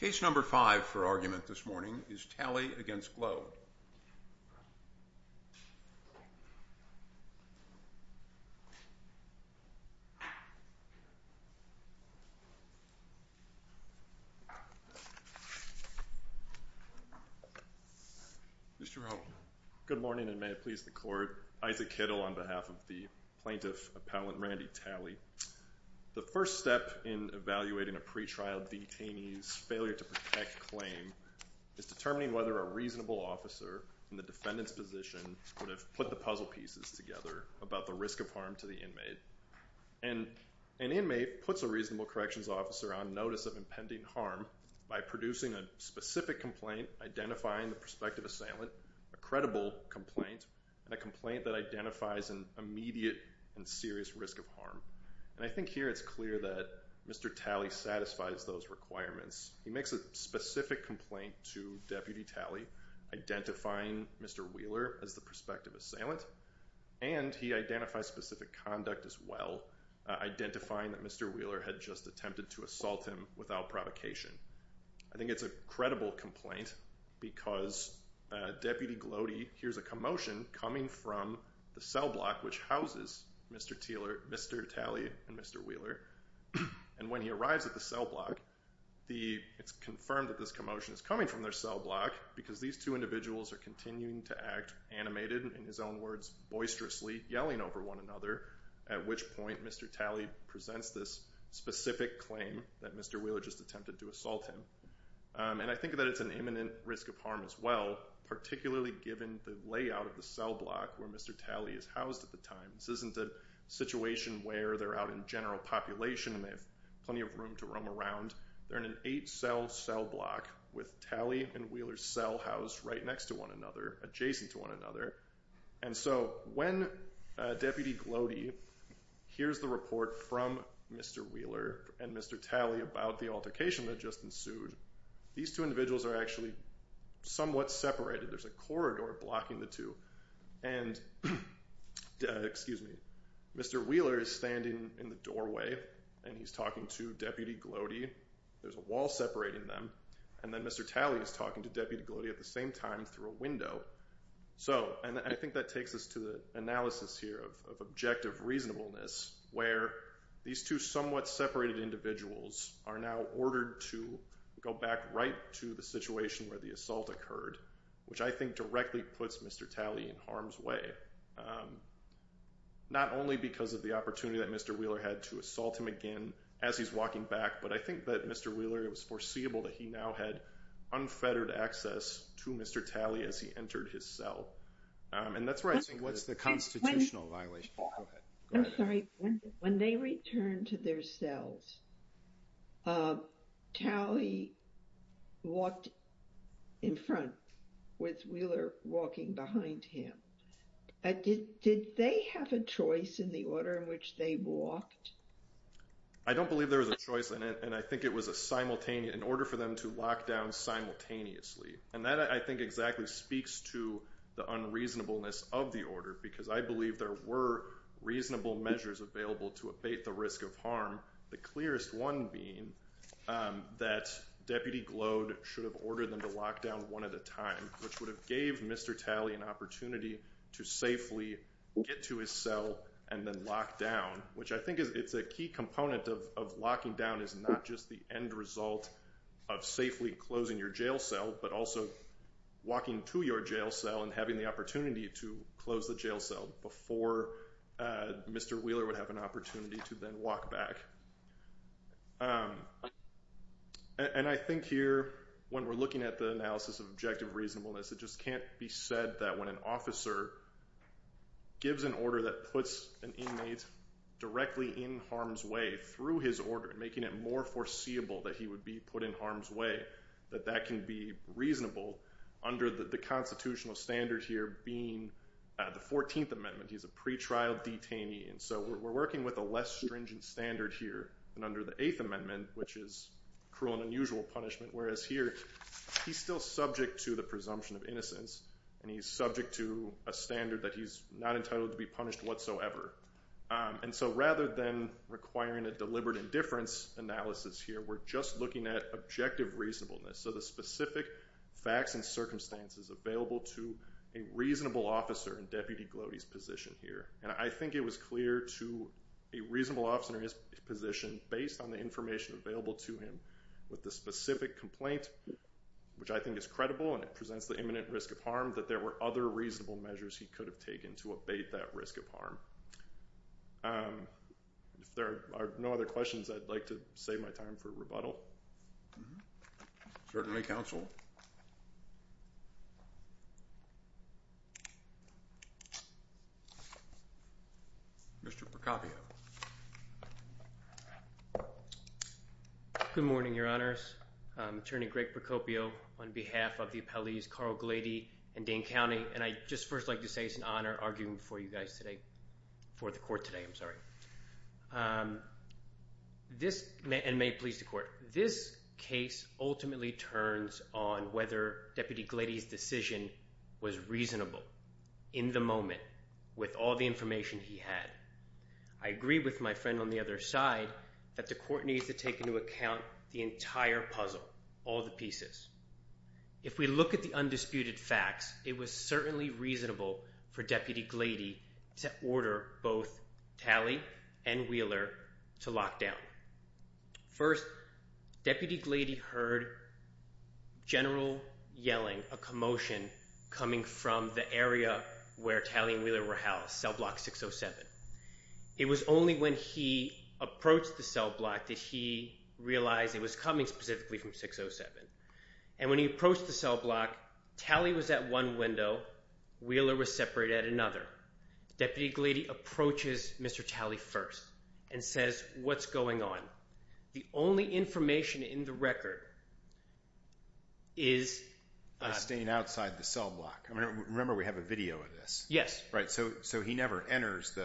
Case number five for argument this morning is Talley v. Gloede. Mr. Rowe. Good morning and may it please the Court. Isaac Kittle on behalf of the Plaintiff Appellant Randy Talley. The first step in evaluating a pretrial detainee's failure to protect claim is determining whether a reasonable officer in the defendant's position would have put the puzzle pieces together about the risk of harm to the inmate. And an inmate puts a reasonable corrections officer on notice of impending harm by producing a specific complaint identifying the prospective assailant, a credible complaint, and a complaint that identifies an immediate and serious risk of harm. And I think here it's clear that Mr. Talley satisfies those requirements. He makes a specific complaint to Deputy Talley identifying Mr. Wheeler as the prospective assailant, and he identifies specific conduct as well, identifying that Mr. Wheeler had just attempted to assault him without provocation. I think it's a credible complaint because Deputy Gloede hears a commotion coming from the cell block which houses Mr. Talley and Mr. Wheeler. And when he arrives at the cell block, it's confirmed that this commotion is coming from their cell block because these two individuals are continuing to act animated, in his own words, boisterously, yelling over one another, at which point Mr. Talley presents this specific claim that Mr. Wheeler just attempted to assault him. And I think that it's an imminent risk of harm as well, particularly given the layout of the cell block where Mr. Talley is housed at the time. This isn't a situation where they're out in general population and they have plenty of room to roam around. They're in an eight-cell cell block with Talley and Wheeler's cell housed right next to one another, adjacent to one another. And so when Deputy Gloede hears the report from Mr. Wheeler and Mr. Talley about the altercation that just ensued, these two individuals are actually somewhat separated. There's a corridor blocking the two. And Mr. Wheeler is standing in the doorway and he's talking to Deputy Gloede. There's a wall separating them. And then Mr. Talley is talking to Deputy Gloede at the same time through a window. And I think that takes us to the analysis here of objective reasonableness, where these two somewhat separated individuals are now ordered to go back right to the situation where the assault occurred, which I think directly puts Mr. Talley in harm's way, not only because of the opportunity that Mr. Wheeler had to assault him again as he's walking back, but I think that Mr. Wheeler, it was foreseeable that he now had unfettered access to Mr. Talley as he entered his cell. And that's where I think what's the constitutional violation. Go ahead. I'm sorry. When they returned to their cells, Talley walked in front with Wheeler walking behind him. Did they have a choice in the order in which they walked? I don't believe there was a choice in it, and I think it was a simultaneous, an order for them to lock down simultaneously. And that, I think, exactly speaks to the unreasonableness of the order, because I believe there were reasonable measures available to abate the risk of harm, the clearest one being that Deputy Gloede should have ordered them to lock down one at a time, which would have gave Mr. Talley an opportunity to safely get to his cell and then lock down, which I think is a key component of locking down is not just the end result of safely closing your jail cell, but also walking to your jail cell and having the opportunity to close the jail cell before Mr. Wheeler would have an opportunity to then walk back. And I think here, when we're looking at the analysis of objective reasonableness, it just can't be said that when an officer gives an order that puts an inmate directly in harm's way through his order, making it more foreseeable that he would be put in harm's way, that that can be reasonable under the constitutional standard here being the 14th Amendment. He's a pretrial detainee, and so we're working with a less stringent standard here than under the 8th Amendment, which is cruel and unusual punishment, whereas here, he's still subject to the presumption of innocence, and he's subject to a standard that he's not entitled to be punished whatsoever. And so rather than requiring a deliberate indifference analysis here, we're just looking at objective reasonableness, so the specific facts and circumstances available to a reasonable officer in Deputy Gloede's position here. And I think it was clear to a reasonable officer in his position, based on the information available to him with the specific complaint, which I think is credible, and it presents the imminent risk of harm, that there were other reasonable measures he could have taken to abate that risk of harm. If there are no other questions, I'd like to save my time for rebuttal. Certainly, counsel. Mr. Procopio. Good morning, Your Honors. Attorney Greg Procopio on behalf of the appellees Carl Gloede and Dane County, and I'd just first like to say it's an honor arguing for you guys today, for the court today, I'm sorry. And may it please the court. This case ultimately turns on whether Deputy Gloede's decision was reasonable in the moment with all the information he had. I agree with my friend on the other side that the court needs to take into account the entire puzzle, all the pieces. If we look at the undisputed facts, it was certainly reasonable for Deputy Gloede to order both Talley and Wheeler to lock down. First, Deputy Gloede heard general yelling, a commotion coming from the area where Talley and Wheeler were housed, cell block 607. It was only when he approached the cell block that he realized it was coming specifically from 607. And when he approached the cell block, Talley was at one window, Wheeler was separated at another. Deputy Gloede approaches Mr. Talley first and says, what's going on? The only information in the record is... Staying outside the cell block. Remember, we have a video of this. Yes. Right, so he never enters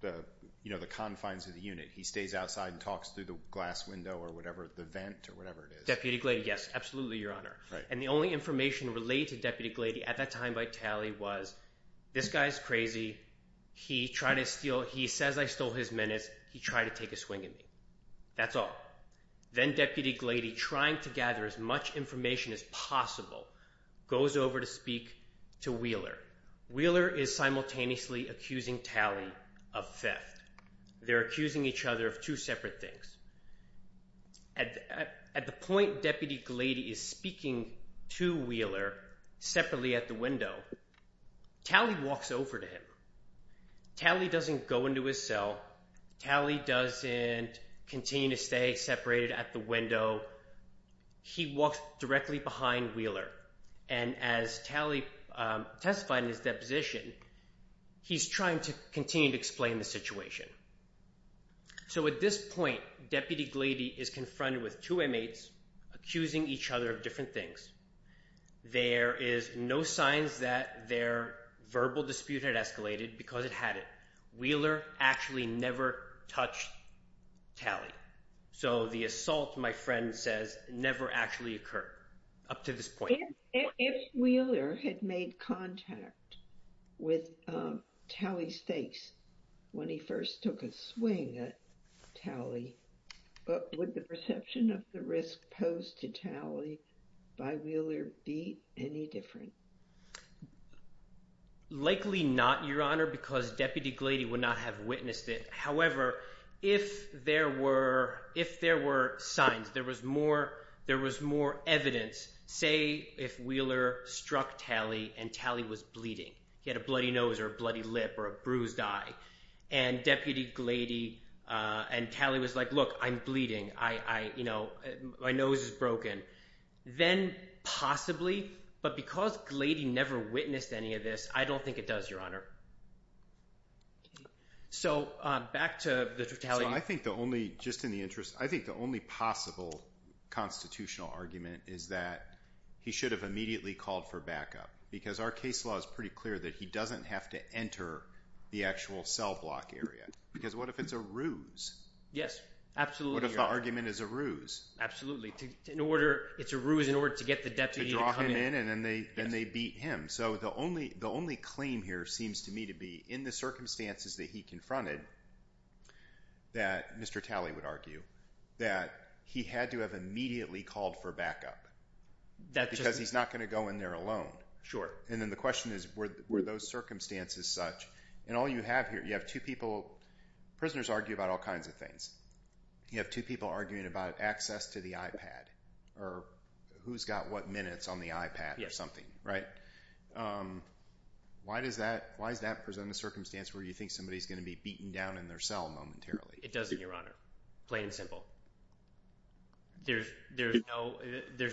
the confines of the unit. He stays outside and talks through the glass window or the vent or whatever it is. Deputy Gloede, yes, absolutely, Your Honor. And the only information related to Deputy Gloede at that time by Talley was, this guy's crazy. He says I stole his minutes. He tried to take a swing at me. That's all. Then Deputy Gloede, trying to gather as much information as possible, goes over to speak to Wheeler. Wheeler is simultaneously accusing Talley of theft. They're accusing each other of two separate things. At the point Deputy Gloede is speaking to Wheeler separately at the window, Talley walks over to him. Talley doesn't go into his cell. Talley doesn't continue to stay separated at the window. He walks directly behind Wheeler. And as Talley testified in his deposition, he's trying to continue to explain the situation. So at this point, Deputy Gloede is confronted with two inmates accusing each other of different things. There is no signs that their verbal dispute had escalated because it hadn't. Wheeler actually never touched Talley. So the assault, my friend says, never actually occurred up to this point. If Wheeler had made contact with Talley Stakes when he first took a swing at Talley, would the perception of the risk posed to Talley by Wheeler be any different? Likely not, Your Honor, because Deputy Gloede would not have witnessed it. However, if there were signs, there was more evidence, say if Wheeler struck Talley and Talley was bleeding. He had a bloody nose or a bloody lip or a bruised eye. And Deputy Gloede and Talley was like, look, I'm bleeding. My nose is broken. Then possibly, but because Gloede never witnessed any of this, I don't think it does, Your Honor. So back to the Talley. So I think the only, just in the interest, I think the only possible constitutional argument is that he should have immediately called for backup. Because our case law is pretty clear that he doesn't have to enter the actual cell block area. Because what if it's a ruse? Yes, absolutely, Your Honor. What if the argument is a ruse? Absolutely. It's a ruse in order to get the deputy to come in. To draw him in and then they beat him. So the only claim here seems to me to be in the circumstances that he confronted, that Mr. Talley would argue, that he had to have immediately called for backup. Because he's not going to go in there alone. Sure. And then the question is, were those circumstances such? And all you have here, you have two people, prisoners argue about all kinds of things. You have two people arguing about access to the iPad or who's got what minutes on the iPad or something, right? Why does that present a circumstance where you think somebody's going to be beaten down in their cell momentarily? It doesn't, Your Honor. Plain and simple. There's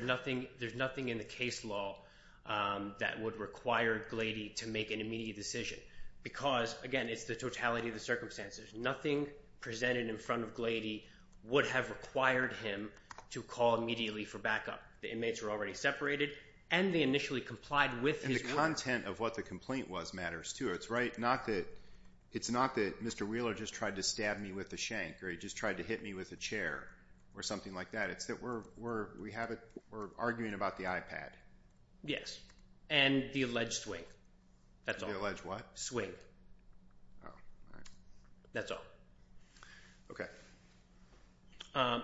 nothing in the case law that would require Glady to make an immediate decision. Because, again, it's the totality of the circumstances. Nothing presented in front of Glady would have required him to call immediately for backup. The inmates were already separated and they initially complied with his work. And the content of what the complaint was matters, too. It's not that Mr. Wheeler just tried to stab me with a shank or he just tried to hit me with a chair or something like that. It's that we're arguing about the iPad. Yes. And the alleged swing. The alleged what? Swing. Oh, all right. That's all. Okay.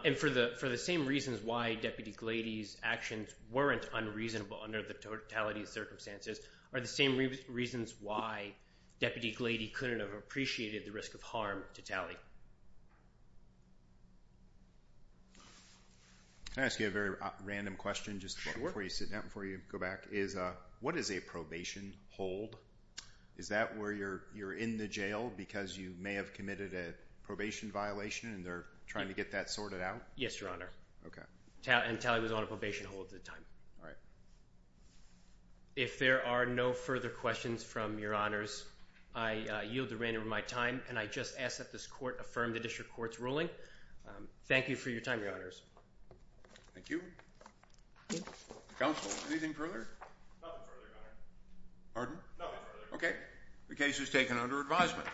And for the same reasons why Deputy Glady's actions weren't unreasonable under the totality of circumstances are the same reasons why Deputy Glady couldn't have appreciated the risk of harm totality. Can I ask you a very random question just before you sit down, before you go back? Sure. What does a probation hold? Is that where you're in the jail because you may have committed a probation violation and they're trying to get that sorted out? Yes, Your Honor. And Talley was on a probation hold at the time. All right. If there are no further questions from Your Honors, I yield the reign of my time, and I just ask that this court affirm the district court's ruling. Thank you for your time, Your Honors. Thank you. Counsel, anything further? Nothing further, Your Honor. Pardon? No, nothing further. Okay. The case is taken under advisement.